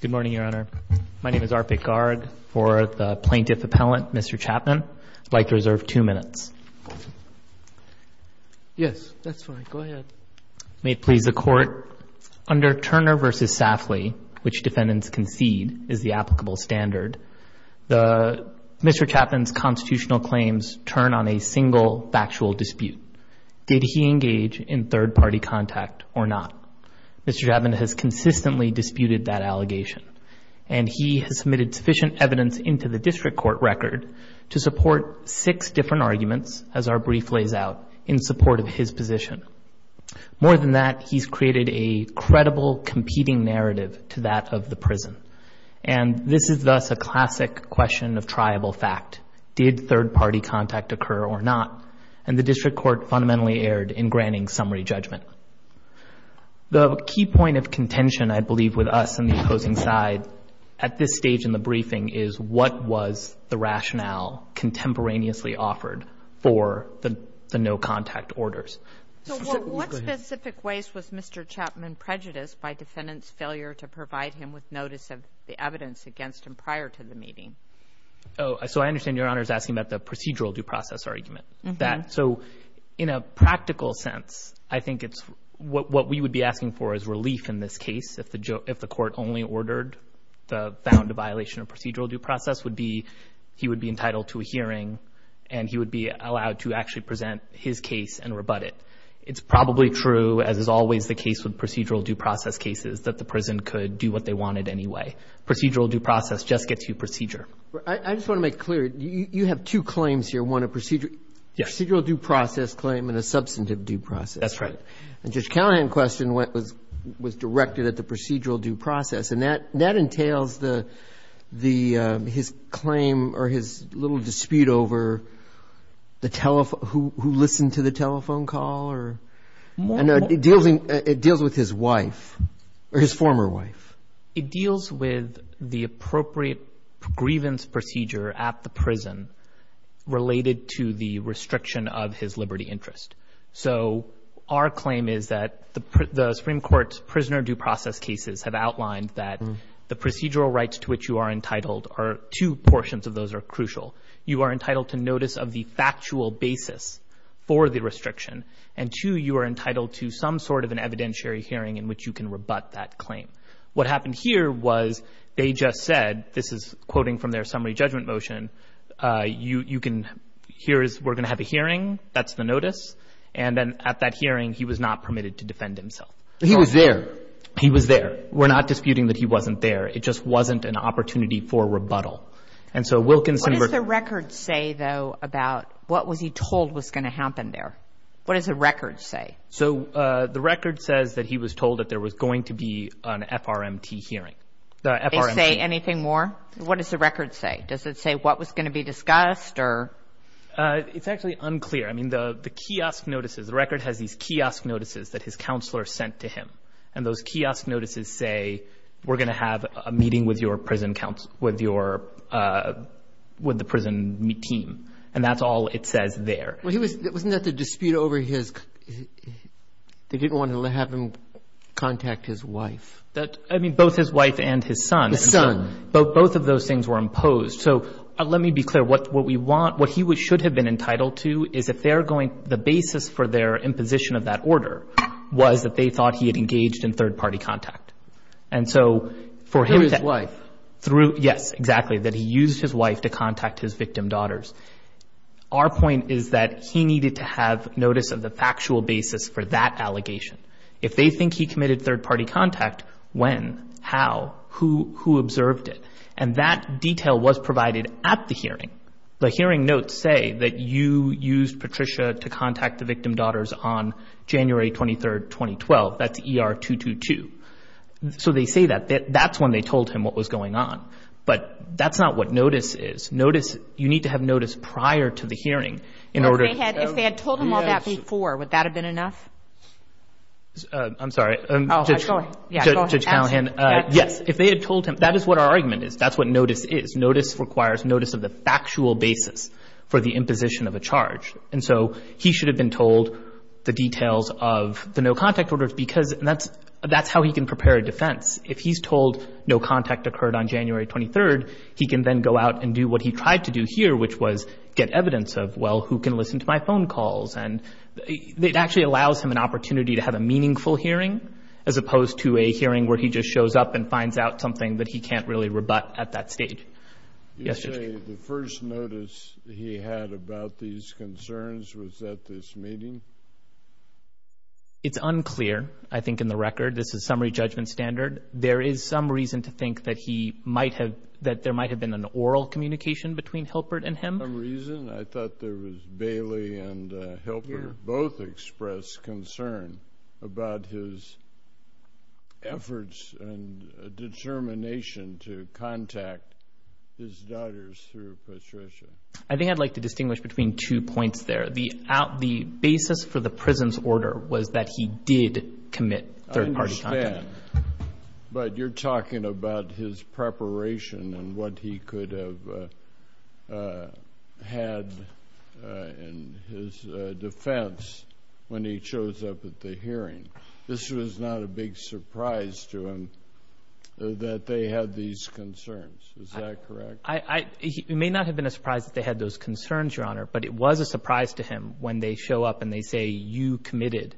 Good morning, Your Honor. My name is Arpit Garg. For the plaintiff appellant, Mr. Chapman, I'd like to reserve two minutes. Yes, that's fine. Go ahead. May it please the Court, under Turner v. Safley, which defendants concede is the applicable standard, Mr. Chapman's constitutional claims turn on a single factual dispute. Did he engage in third-party contact or not? Mr. Chapman has consistently disputed that allegation, and he has submitted sufficient evidence into the district court record to support six different arguments, as our brief lays out, in support of his position. More than that, he's created a credible, competing narrative to that of the prison. And this is thus a classic question of triable fact. Did third-party contact occur or not? And the district court fundamentally erred in granting summary judgment. The key point of contention, I believe, with us and the opposing side, at this stage in the briefing, is what was the rationale contemporaneously offered for the no-contact orders. So what specific ways was Mr. Chapman prejudiced by defendants' failure to provide him with notice of the evidence against him prior to the meeting? Oh, so I understand Your Honor is asking about the procedural due process argument. So in a practical sense, I think it's what we would be asking for is relief in this case if the court only ordered the found violation of procedural due process would be he would be entitled to a hearing and he would be allowed to actually present his case and rebut it. It's probably true, as is always the case with procedural due process cases, that the prison could do what they wanted anyway. Procedural due process just gets you procedure. I just want to make clear, you have two claims here, one a procedural due process claim and a substantive due process. That's right. And Judge Callahan's question was directed at the procedural due process, and that entails his claim or his little dispute over who listened to the telephone call. It deals with his wife or his former wife. It deals with the appropriate grievance procedure at the prison related to the restriction of his liberty interest. So our claim is that the Supreme Court's prisoner due process cases have outlined that the procedural rights to which you are entitled are two portions of those are crucial. You are entitled to notice of the factual basis for the restriction, and two, you are entitled to some sort of an evidentiary hearing in which you can rebut that claim. What happened here was they just said, this is quoting from their summary judgment motion, we're going to have a hearing, that's the notice, and then at that hearing he was not permitted to defend himself. He was there. He was there. We're not disputing that he wasn't there. It just wasn't an opportunity for rebuttal. What does the record say, though, about what was he told was going to happen there? What does the record say? So the record says that he was told that there was going to be an FRMT hearing. FRMT. They say anything more? What does the record say? Does it say what was going to be discussed or? It's actually unclear. I mean, the kiosk notices, the record has these kiosk notices that his counselor sent to him, and those kiosk notices say we're going to have a meeting with your prison council, with your prison team, and that's all it says there. Wasn't that the dispute over his, they didn't want to have him contact his wife? I mean, both his wife and his son. His son. Both of those things were imposed. So let me be clear. What we want, what he should have been entitled to is if they're going, the basis for their imposition of that order was that they thought he had engaged in third-party contact. And so for him to. Through his wife. Through, yes, exactly, that he used his wife to contact his victim daughters. Our point is that he needed to have notice of the factual basis for that allegation. If they think he committed third-party contact, when, how, who observed it? And that detail was provided at the hearing. The hearing notes say that you used Patricia to contact the victim daughters on January 23, 2012. That's ER 222. So they say that. That's when they told him what was going on. But that's not what notice is. Notice, you need to have notice prior to the hearing in order to. If they had told him all that before, would that have been enough? I'm sorry. Go ahead. Judge Callahan. Yes. If they had told him. That is what our argument is. That's what notice is. Notice requires notice of the factual basis for the imposition of a charge. And so he should have been told the details of the no-contact orders because that's how he can prepare a defense. If he's told no contact occurred on January 23rd, he can then go out and do what he tried to do here, which was get evidence of, well, who can listen to my phone calls. And it actually allows him an opportunity to have a meaningful hearing, as opposed to a hearing where he just shows up and finds out something that he can't really rebut at that stage. You say the first notice he had about these concerns was at this meeting? It's unclear, I think, in the record. This is summary judgment standard. There is some reason to think that there might have been an oral communication between Hilpert and him. Some reason? I thought there was Bailey and Hilpert both expressed concern about his efforts and determination to contact his daughters through Patricia. I think I'd like to distinguish between two points there. The basis for the prison's order was that he did commit third-party contact. I understand, but you're talking about his preparation and what he could have had in his defense when he shows up at the hearing. This was not a big surprise to him that they had these concerns. Is that correct? It may not have been a surprise that they had those concerns, Your Honor, but it was a surprise to him when they show up and they say, you committed,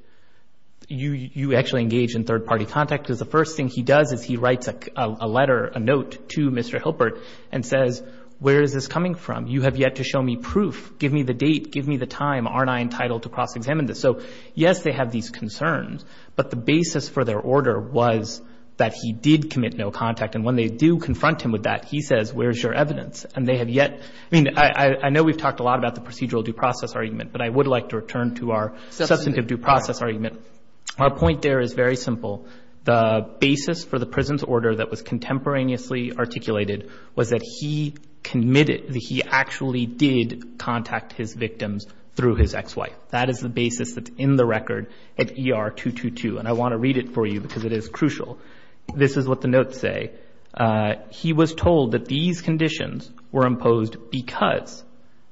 you actually engaged in third-party contact. Because the first thing he does is he writes a letter, a note, to Mr. Hilpert and says, where is this coming from? You have yet to show me proof. Give me the date. Give me the time. Aren't I entitled to cross-examine this? So, yes, they have these concerns, but the basis for their order was that he did commit no contact. And when they do confront him with that, he says, where's your evidence? And they have yet, I mean, I know we've talked a lot about the procedural due process argument, but I would like to return to our substantive due process argument. Our point there is very simple. The basis for the prison's order that was contemporaneously articulated was that he committed, that he actually did contact his victims through his ex-wife. That is the basis that's in the record at ER-222. And I want to read it for you because it is crucial. This is what the notes say. He was told that these conditions were imposed because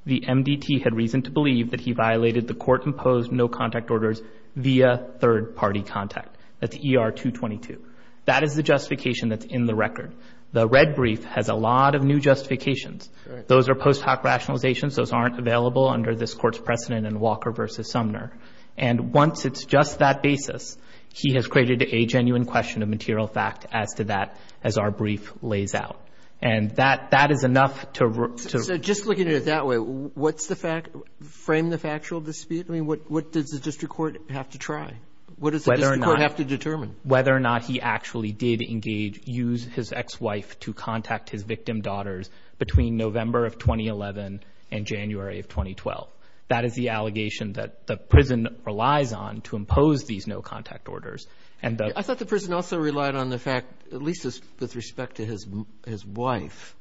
the MDT had reason to believe that he violated the court-imposed no-contact orders via third-party contact. That's ER-222. That is the justification that's in the record. The red brief has a lot of new justifications. Those are post hoc rationalizations. Those aren't available under this Court's precedent in Walker v. Sumner. And once it's just that basis, he has created a genuine question of material fact as to that as our brief lays out. And that is enough to... So just looking at it that way, what's the fact, frame the factual dispute? I mean, what does the district court have to try? What does the district court have to determine? Whether or not he actually did engage, use his ex-wife to contact his victim daughters between November of 2011 and January of 2012. That is the allegation that the prison relies on to impose these no-contact orders. And the... I thought the prison also relied on the fact, at least with respect to his wife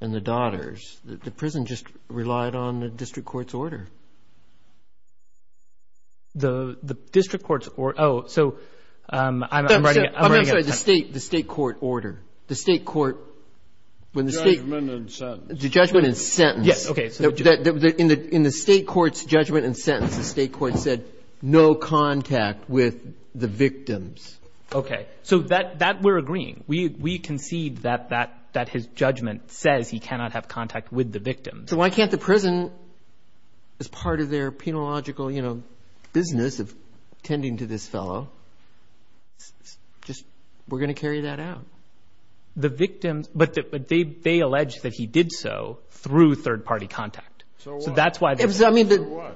and the daughters. The prison just relied on the district court's order. The district court's order... Oh, so I'm... I'm sorry, the state court order. The state court... The judgment and sentence. The judgment and sentence. Yes, okay. In the state court's judgment and sentence, the state court said no contact with the victims. Okay. So that we're agreeing. We concede that his judgment says he cannot have contact with the victims. So why can't the prison, as part of their penological, you know, business of tending to this fellow, just... We're going to carry that out. The victims... But they... They allege that he did so through third-party contact. So that's why... I mean...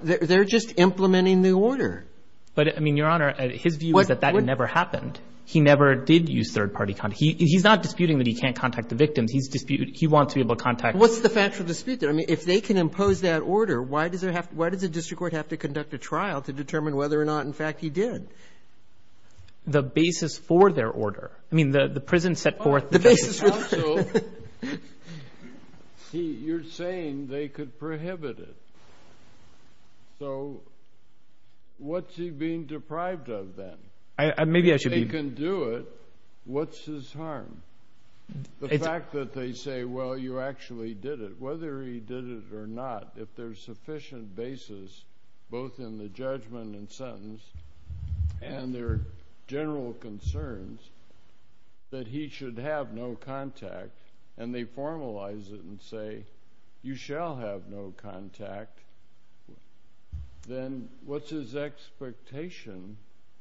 They're just implementing the order. But, I mean, Your Honor, his view is that that never happened. He never did use third-party contact. He's not disputing that he can't contact the victims. He's disputing... He wants to be able to contact... What's the factual dispute there? I mean, if they can impose that order, why does there have to... Why does the district court have to conduct a trial to determine whether or not, in fact, he did? The basis for their order. I mean, the prison set forth... The basis... Also, you're saying they could prohibit it. So what's he being deprived of then? Maybe I should be... If they can do it, what's his harm? The fact that they say, well, you actually did it. Whether he did it or not, if there's sufficient basis, both in the judgment and sentence, and there are general concerns that he should have no contact, and they formalize it and say you shall have no contact, then what's his expectation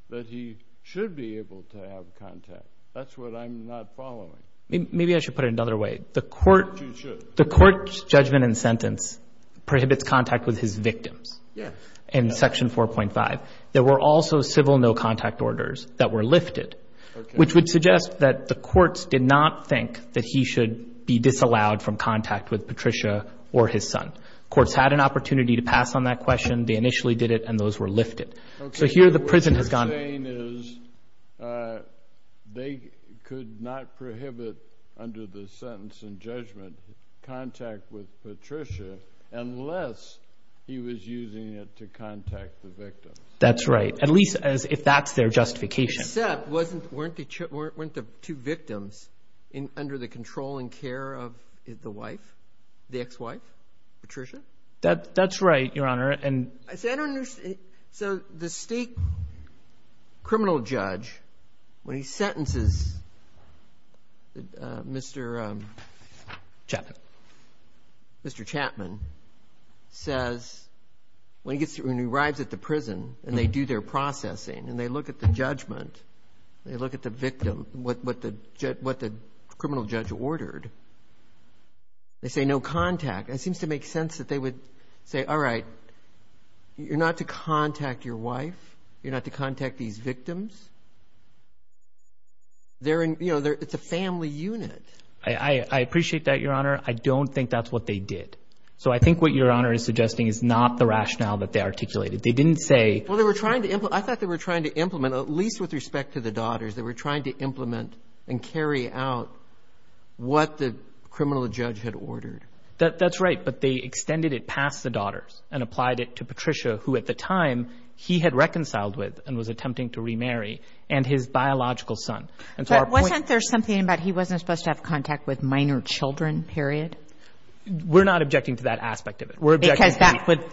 that he should be able to have contact? That's what I'm not following. Maybe I should put it another way. The court... You should. The court's judgment and sentence prohibits contact with his victims. Yes. In Section 4.5, there were also civil no-contact orders that were lifted. Okay. Which would suggest that the courts did not think that he should be disallowed from contact with Patricia or his son. Courts had an opportunity to pass on that question. They initially did it, and those were lifted. Okay. So here the prison has gone... What you're saying is they could not prohibit, under the sentence and judgment, contact with Patricia unless he was using it to contact the victims. That's right, at least if that's their justification. Except weren't the two victims under the control and care of the wife, the ex-wife, Patricia? That's right, Your Honor. And... See, I don't understand. So the state criminal judge, when he sentences Mr.... Chapman. Mr. Chapman, says when he arrives at the prison and they do their processing and they look at the judgment, they look at the victim, what the criminal judge ordered, they say no contact. It seems to make sense that they would say, all right, you're not to contact your wife. You're not to contact these victims. They're in... It's a family unit. I appreciate that, Your Honor. I don't think that's what they did. So I think what Your Honor is suggesting is not the rationale that they articulated. They didn't say... Well, they were trying to... I thought they were trying to implement, at least with respect to the daughters, they were trying to implement and carry out what the criminal judge had ordered. That's right. But they extended it past the daughters and applied it to Patricia, who at the time he had reconciled with and was attempting to remarry, and his biological son. But wasn't there something about he wasn't supposed to have contact with minor children, period? We're not objecting to that aspect of it. Because that would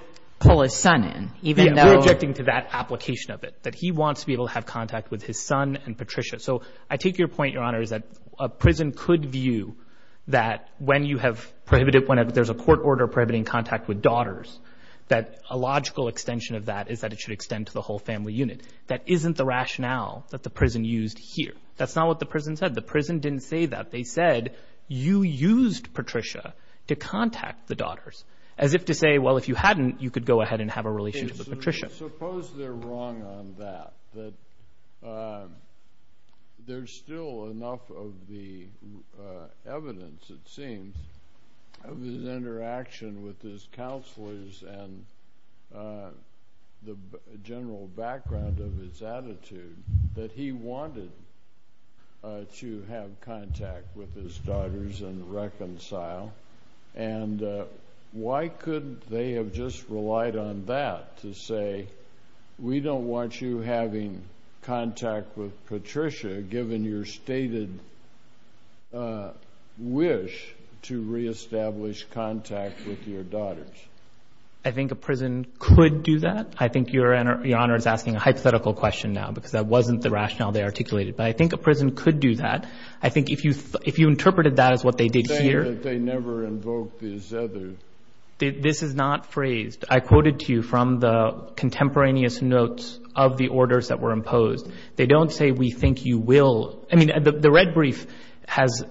pull his son in, even though... We're objecting to that application of it, that he wants to be able to have contact with his son and Patricia. So I take your point, Your Honor, is that a prison could view that when you have prohibited... whenever there's a court order prohibiting contact with daughters, that a logical extension of that is that it should extend to the whole family unit. That isn't the rationale that the prison used here. That's not what the prison said. The prison didn't say that. They said you used Patricia to contact the daughters, as if to say, well, if you hadn't, you could go ahead and have a relationship with Patricia. Suppose they're wrong on that, that there's still enough of the evidence, it seems, of his interaction with his counselors and the general background of his attitude that he wanted to have contact with his daughters and reconcile. And why couldn't they have just relied on that to say, we don't want you having contact with Patricia, given your stated wish to reestablish contact with your daughters? I think a prison could do that. I think Your Honor is asking a hypothetical question now, because that wasn't the rationale they articulated. But I think a prison could do that. I think if you interpreted that as what they did here... But they never invoked this other... This is not phrased. I quoted to you from the contemporaneous notes of the orders that were imposed. They don't say we think you will. I mean, the red brief has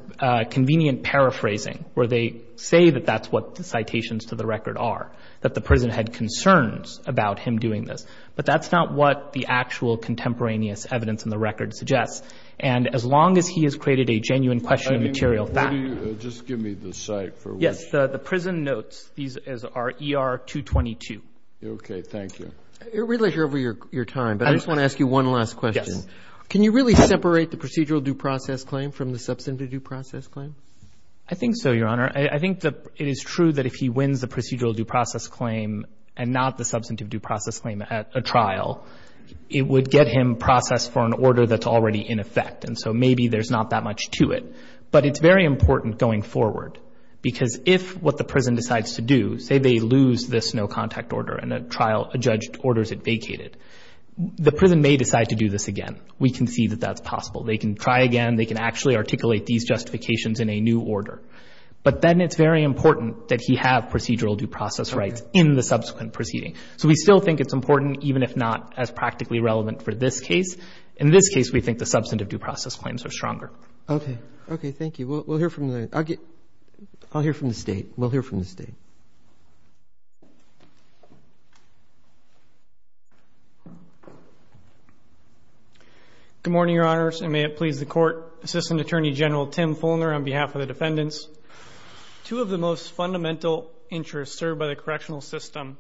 convenient paraphrasing, where they say that that's what the citations to the record are, that the prison had concerns about him doing this. But that's not what the actual contemporaneous evidence in the record suggests. And as long as he has created a genuine question of material fact... Just give me the site for which... Yes. The prison notes. These are ER-222. Okay. Thank you. I realize you're over your time, but I just want to ask you one last question. Yes. Can you really separate the procedural due process claim from the substantive due process claim? I think so, Your Honor. I think it is true that if he wins the procedural due process claim and not the substantive due process claim at a trial, it would get him processed for an order that's already in effect. And so maybe there's not that much to it. But it's very important going forward, because if what the prison decides to do, say they lose this no contact order and a trial, a judge orders it vacated, the prison may decide to do this again. We can see that that's possible. They can try again. They can actually articulate these justifications in a new order. But then it's very important that he have procedural due process rights in the subsequent proceeding. So we still think it's important, even if not as practically relevant for this case. In this case, we think the substantive due process claims are stronger. Okay. Okay. Thank you. We'll hear from the State. We'll hear from the State. Good morning, Your Honors. And may it please the Court. Assistant Attorney General Tim Fulner on behalf of the defendants. Two of the most fundamental interests served by the correctional system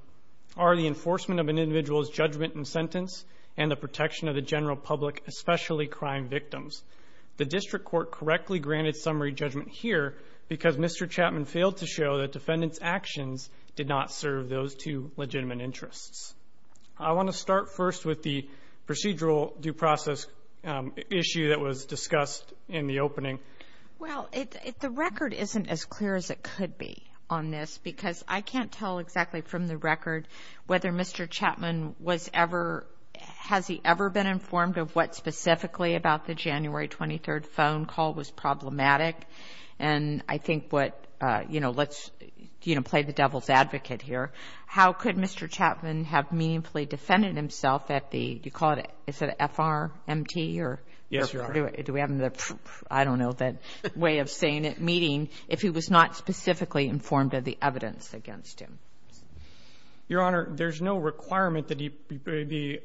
are the enforcement of an individual's judgment and sentence and the protection of the general public, especially crime victims. The district court correctly granted summary judgment here because Mr. Chapman failed to show that defendant's actions did not serve those two legitimate interests. I want to start first with the procedural due process issue that was discussed in the opening. Well, the record isn't as clear as it could be on this because I can't tell exactly from the record whether Mr. Chapman was ever, has he ever been informed of what specifically about the January 23rd phone call was problematic. And I think what, you know, let's, you know, play the devil's advocate here. How could Mr. Chapman have meaningfully defended himself at the, do you call it, is it FRMT or? Yes, Your Honor. Do we have the, I don't know, that way of saying it, meeting if he was not specifically informed of the evidence against him? Your Honor, there's no requirement that he be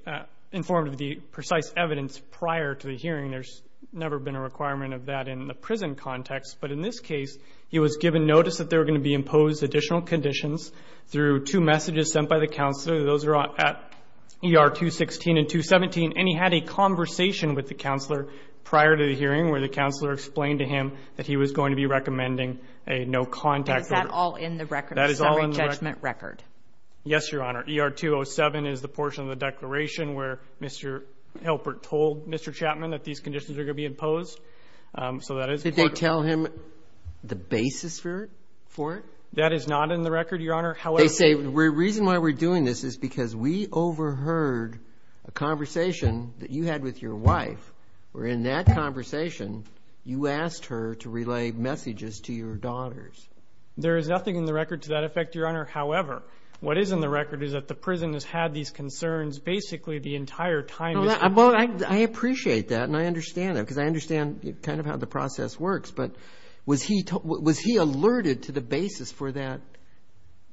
informed of the precise evidence prior to the hearing. There's never been a requirement of that in the prison context. But in this case, he was given notice that they were going to be imposed additional conditions through two messages sent by the counselor. Those are at ER 216 and 217. And he had a conversation with the counselor prior to the hearing where the counselor explained to him that he was going to be recommending a no contact order. That is all in the record? That is all in the record. The summary judgment record? Yes, Your Honor. ER 207 is the portion of the declaration where Mr. Hilpert told Mr. Chapman that these conditions were going to be imposed. So that is part of it. Did they tell him the basis for it? That is not in the record, Your Honor. They say the reason why we're doing this is because we overheard a conversation that you had with your wife, where in that conversation you asked her to relay messages to your daughters. There is nothing in the record to that effect, Your Honor. However, what is in the record is that the prison has had these concerns basically the entire time. Well, I appreciate that, and I understand that, because I understand kind of how the process works. But was he alerted to the basis for that,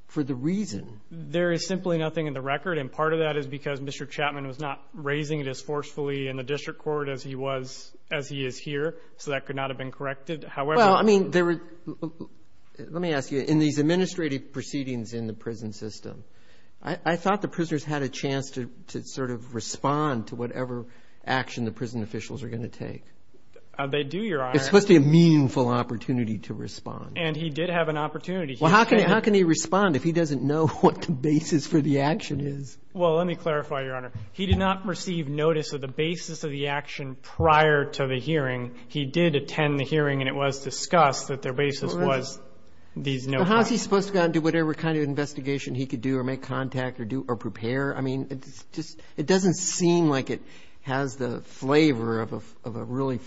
for the reason? There is simply nothing in the record. And part of that is because Mr. Chapman was not raising it as forcefully in the district court as he is here, so that could not have been corrected. Well, I mean, let me ask you, in these administrative proceedings in the prison system, I thought the prisoners had a chance to sort of respond to whatever action the prison officials are going to take. They do, Your Honor. It's supposed to be a meaningful opportunity to respond. And he did have an opportunity. Well, how can he respond if he doesn't know what the basis for the action is? Well, let me clarify, Your Honor. He did not receive notice of the basis of the action prior to the hearing. He did attend the hearing, and it was discussed that their basis was these notes. Well, how is he supposed to go out and do whatever kind of investigation he could do or make contact or do or prepare? I mean, it doesn't seem like it has the flavor of a really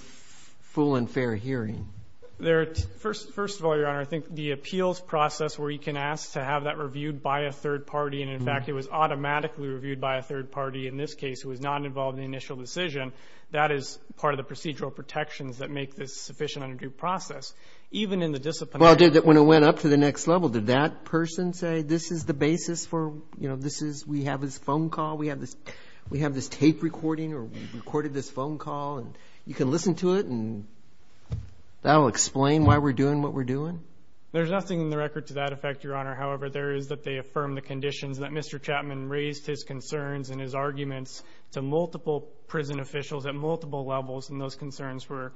full and fair hearing. First of all, Your Honor, I think the appeals process where you can ask to have that reviewed by a third party, and, in fact, it was automatically reviewed by a third party in this case who was not involved in the initial decision, that is part of the procedural protections that make this sufficient and a due process. Even in the disciplinary process. Well, when it went up to the next level, did that person say this is the basis for, you know, this is we have this phone call, we have this tape recording or we recorded this phone call and you can listen to it and that will explain why we're doing what we're doing? There's nothing in the record to that effect, Your Honor. However, there is that they affirm the conditions that Mr. Chapman raised his concerns and his arguments to multiple prison officials at multiple levels, and those concerns were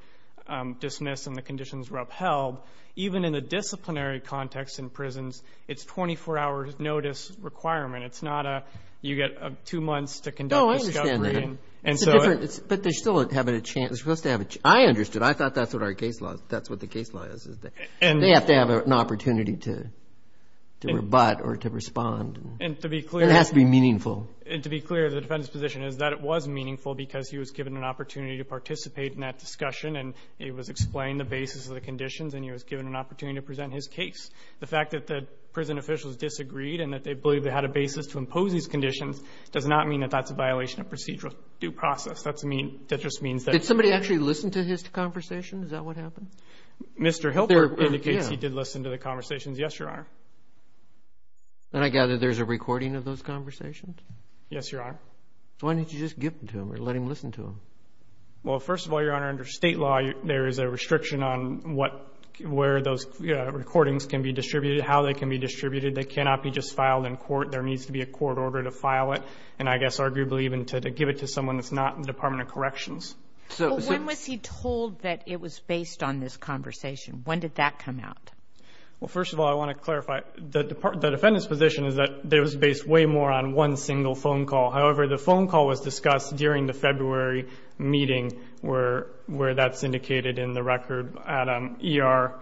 dismissed and the conditions were upheld. Even in the disciplinary context in prisons, it's a 24-hour notice requirement. It's not a you get two months to conduct a discovery. Oh, I understand that. But they're still supposed to have a chance. I understood. I thought that's what our case law is. That's what the case law is. They have to have an opportunity to rebut or to respond. And to be clear. It has to be meaningful. And to be clear, the defendant's position is that it was meaningful because he was given an opportunity to participate in that discussion and it was explained the basis of the conditions and he was given an opportunity to present his case. The fact that the prison officials disagreed and that they believe they had a basis to impose these conditions does not mean that that's a violation of procedural due process. That just means that the prison officials disagreed. Did somebody actually listen to his conversation? Is that what happened? Mr. Hilbert indicates he did listen to the conversations. Yes, Your Honor. Then I gather there's a recording of those conversations? Yes, Your Honor. Why didn't you just give them to him or let him listen to them? Well, first of all, Your Honor, under state law, there is a restriction on where those recordings can be distributed, how they can be distributed. They cannot be just filed in court. There needs to be a court order to file it and I guess arguably even to give it to someone that's not in the Department of Corrections. When was he told that it was based on this conversation? When did that come out? Well, first of all, I want to clarify. The defendant's position is that it was based way more on one single phone call. However, the phone call was discussed during the February meeting where that's indicated in the record at ER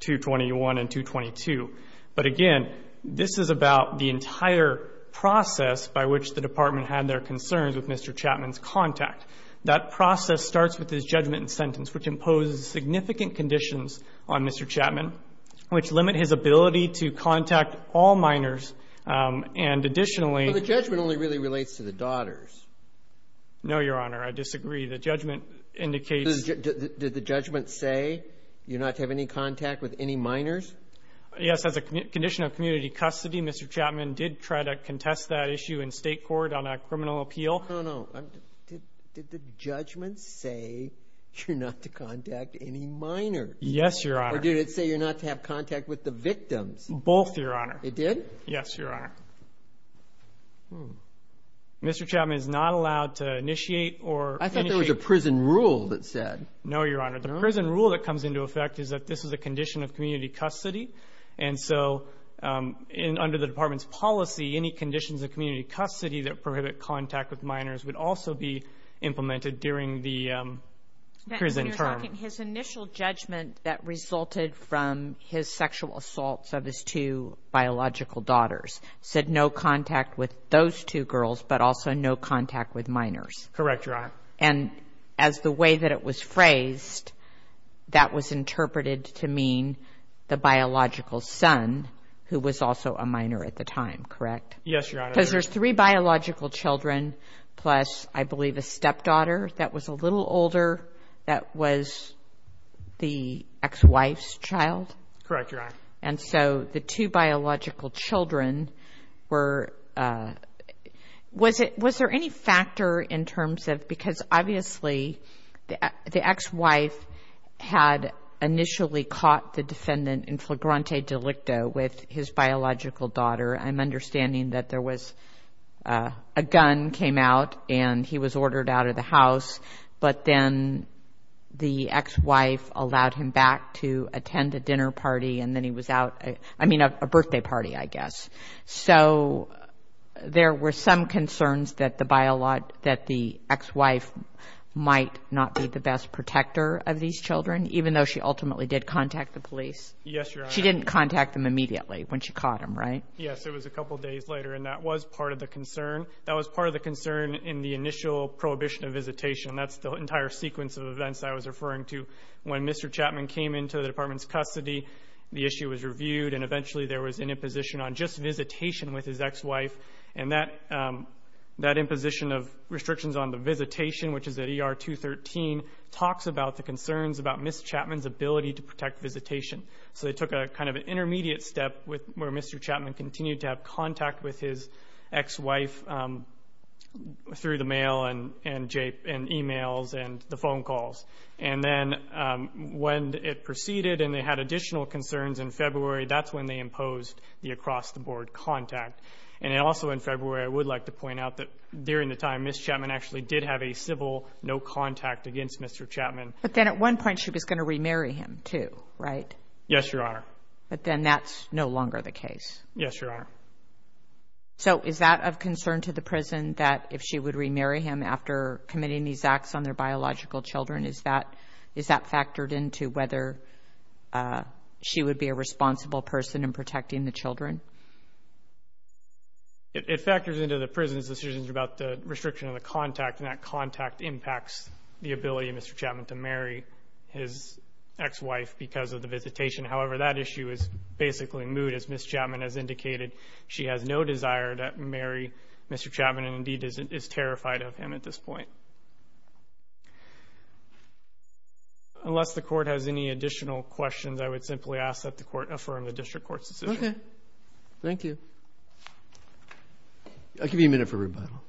221 and 222. But again, this is about the entire process by which the department had their concerns with Mr. Chapman's contact. That process starts with his judgment and sentence, which impose significant conditions on Mr. Chapman, which limit his ability to contact all minors. And additionally— But the judgment only really relates to the daughters. No, Your Honor, I disagree. The judgment indicates— Did the judgment say you're not to have any contact with any minors? Yes, as a condition of community custody, Mr. Chapman did try to contest that issue in state court on a criminal appeal. No, no, no. Did the judgment say you're not to contact any minors? Yes, Your Honor. Or did it say you're not to have contact with the victims? Both, Your Honor. It did? Yes, Your Honor. Mr. Chapman is not allowed to initiate or— I thought there was a prison rule that said— No, Your Honor. The prison rule that comes into effect is that this is a condition of community custody. And so under the department's policy, any conditions of community custody that prohibit contact with minors would also be implemented during the prison term. You're talking his initial judgment that resulted from his sexual assaults of his two biological daughters said no contact with those two girls, but also no contact with minors. Correct, Your Honor. And as the way that it was phrased, that was interpreted to mean the biological son, who was also a minor at the time, correct? Yes, Your Honor. Because there's three biological children plus, I believe, a stepdaughter that was a little older that was the ex-wife's child? Correct, Your Honor. And so the two biological children were— was there any factor in terms of— because obviously the ex-wife had initially caught the defendant in flagrante delicto with his biological daughter. I'm understanding that there was a gun came out and he was ordered out of the house, but then the ex-wife allowed him back to attend a dinner party and then he was out—I mean a birthday party, I guess. So there were some concerns that the ex-wife might not be the best protector of these children, even though she ultimately did contact the police. Yes, Your Honor. She didn't contact them immediately when she caught him, right? Yes, it was a couple days later, and that was part of the concern. That was part of the concern in the initial prohibition of visitation. That's the entire sequence of events I was referring to. When Mr. Chapman came into the Department's custody, the issue was reviewed and eventually there was an imposition on just visitation with his ex-wife, and that imposition of restrictions on the visitation, which is at ER 213, talks about the concerns about Ms. Chapman's ability to protect visitation. So they took kind of an intermediate step where Mr. Chapman continued to have contact with his ex-wife through the mail and emails and the phone calls. And then when it proceeded and they had additional concerns in February, that's when they imposed the across-the-board contact. And also in February, I would like to point out that during the time Ms. Chapman actually did have a civil no-contact against Mr. Chapman. But then at one point she was going to remarry him too, right? Yes, Your Honor. But then that's no longer the case. Yes, Your Honor. So is that of concern to the prison, that if she would remarry him after committing these acts on their biological children, is that factored into whether she would be a responsible person in protecting the children? It factors into the prison's decisions about the restriction of the contact, and that contact impacts the ability of Mr. Chapman to marry his ex-wife because of the visitation. However, that issue is basically moot. As Ms. Chapman has indicated, she has no desire to marry Mr. Chapman and indeed is terrified of him at this point. Unless the Court has any additional questions, I would simply ask that the Court affirm the District Court's decision. Okay. Thank you. I'll give you a minute for rebuttal.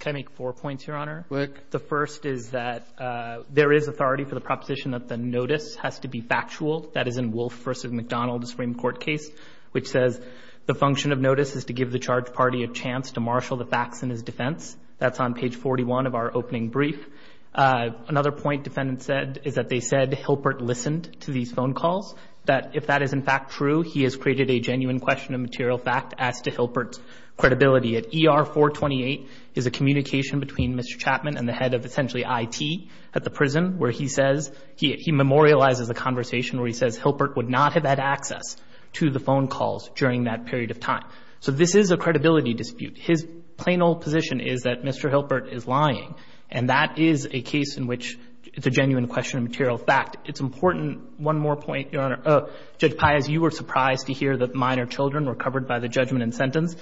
Can I make four points, Your Honor? Go ahead. The first is that there is authority for the proposition that the notice has to be factual. That is in Wolfe v. McDonald Supreme Court case, which says the function of notice is to give the charged party a chance to marshal the facts in his defense. That's on page 41 of our opening brief. Another point defendants said is that they said Hilpert listened to these phone calls, that if that is in fact true, he has created a genuine question of material fact as to Hilpert's credibility. At ER 428 is a communication between Mr. Chapman and the head of essentially IT at the prison, where he says he memorializes a conversation where he says to the phone calls during that period of time. So this is a credibility dispute. His plain old position is that Mr. Hilpert is lying, and that is a case in which it's a genuine question of material fact. It's important. One more point, Your Honor. Judge Paius, you were surprised to hear that minor children were covered by the judgment and sentence.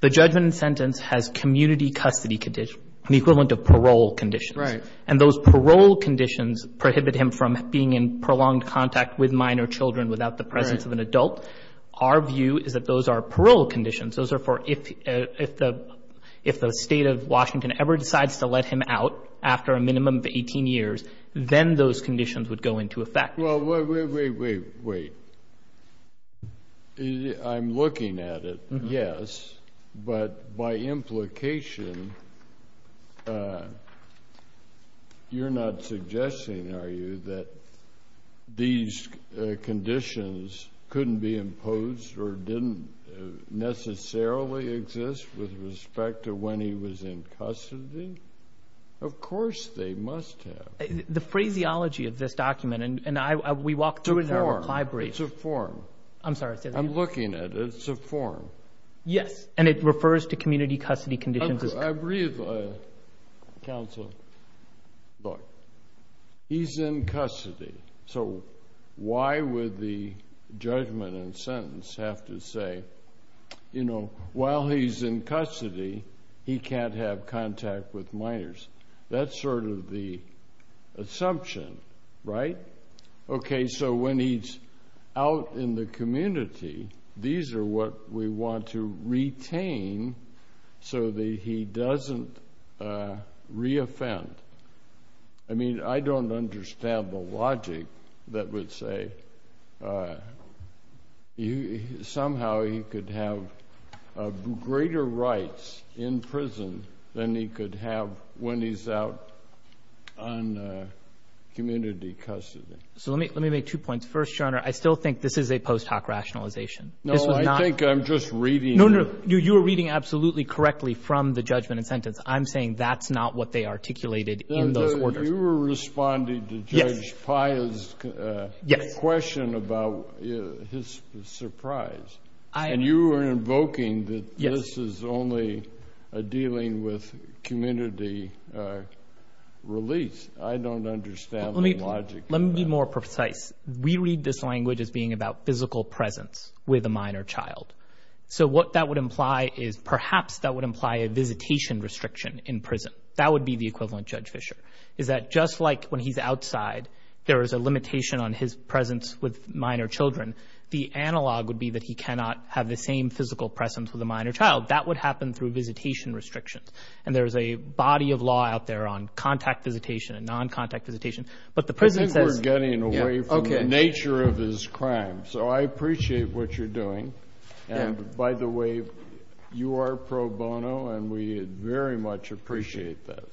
The judgment and sentence has community custody condition, the equivalent of parole conditions. Right. And those parole conditions prohibit him from being in prolonged contact with minor children without the presence of an adult. Right. Our view is that those are parole conditions. Those are for if the State of Washington ever decides to let him out after a minimum of 18 years, then those conditions would go into effect. Well, wait, wait, wait, wait. I'm looking at it, yes. But by implication, you're not suggesting, are you, that these conditions couldn't be imposed or didn't necessarily exist with respect to when he was in custody? Of course they must have. The phraseology of this document, and we walk through it in our library. It's a form. I'm sorry. I'm looking at it. It's a form. Yes. And it refers to community custody conditions. I agree with counsel. Look, he's in custody. So why would the judgment and sentence have to say, you know, while he's in custody, he can't have contact with minors? That's sort of the assumption, right? Okay, so when he's out in the community, these are what we want to retain so that he doesn't reoffend. I mean, I don't understand the logic that would say somehow he could have greater rights in prison than he could have when he's out on community custody. So let me make two points. First, Your Honor, I still think this is a post hoc rationalization. No, I think I'm just reading. No, no, you were reading absolutely correctly from the judgment and sentence. I'm saying that's not what they articulated in those orders. You were responding to Judge Paya's question about his surprise. And you were invoking that this is only dealing with community release. I don't understand the logic of that. Let me be more precise. We read this language as being about physical presence with a minor child. So what that would imply is perhaps that would imply a visitation restriction in prison. That would be the equivalent Judge Fischer, is that just like when he's outside there is a limitation on his presence with minor children, the analog would be that he cannot have the same physical presence with a minor child. That would happen through visitation restrictions. And there is a body of law out there on contact visitation and non-contact visitation. But the prison says— I think we're getting away from the nature of this crime. So I appreciate what you're doing. And, by the way, you are pro bono, and we very much appreciate that.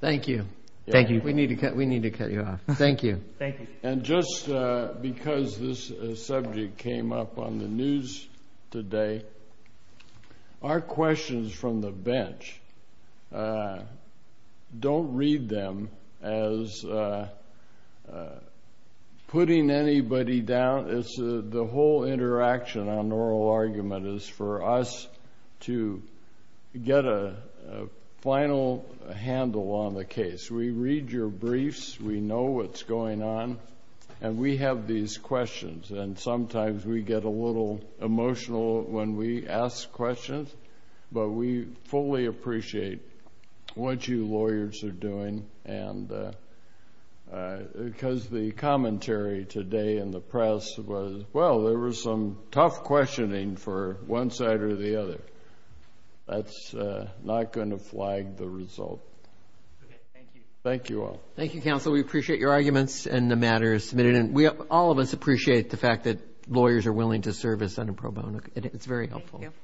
Thank you. We need to cut you off. Thank you. Thank you. And just because this subject came up on the news today, our questions from the bench don't read them as putting anybody down. The whole interaction on oral argument is for us to get a final handle on the case. We read your briefs. We know what's going on, and we have these questions. And sometimes we get a little emotional when we ask questions, but we fully appreciate what you lawyers are doing. Because the commentary today in the press was, well, there was some tough questioning for one side or the other. That's not going to flag the result. Thank you. Thank you all. Thank you, counsel. We appreciate your arguments and the matters submitted. And all of us appreciate the fact that lawyers are willing to serve as unpro bono. It's very helpful. Thank you.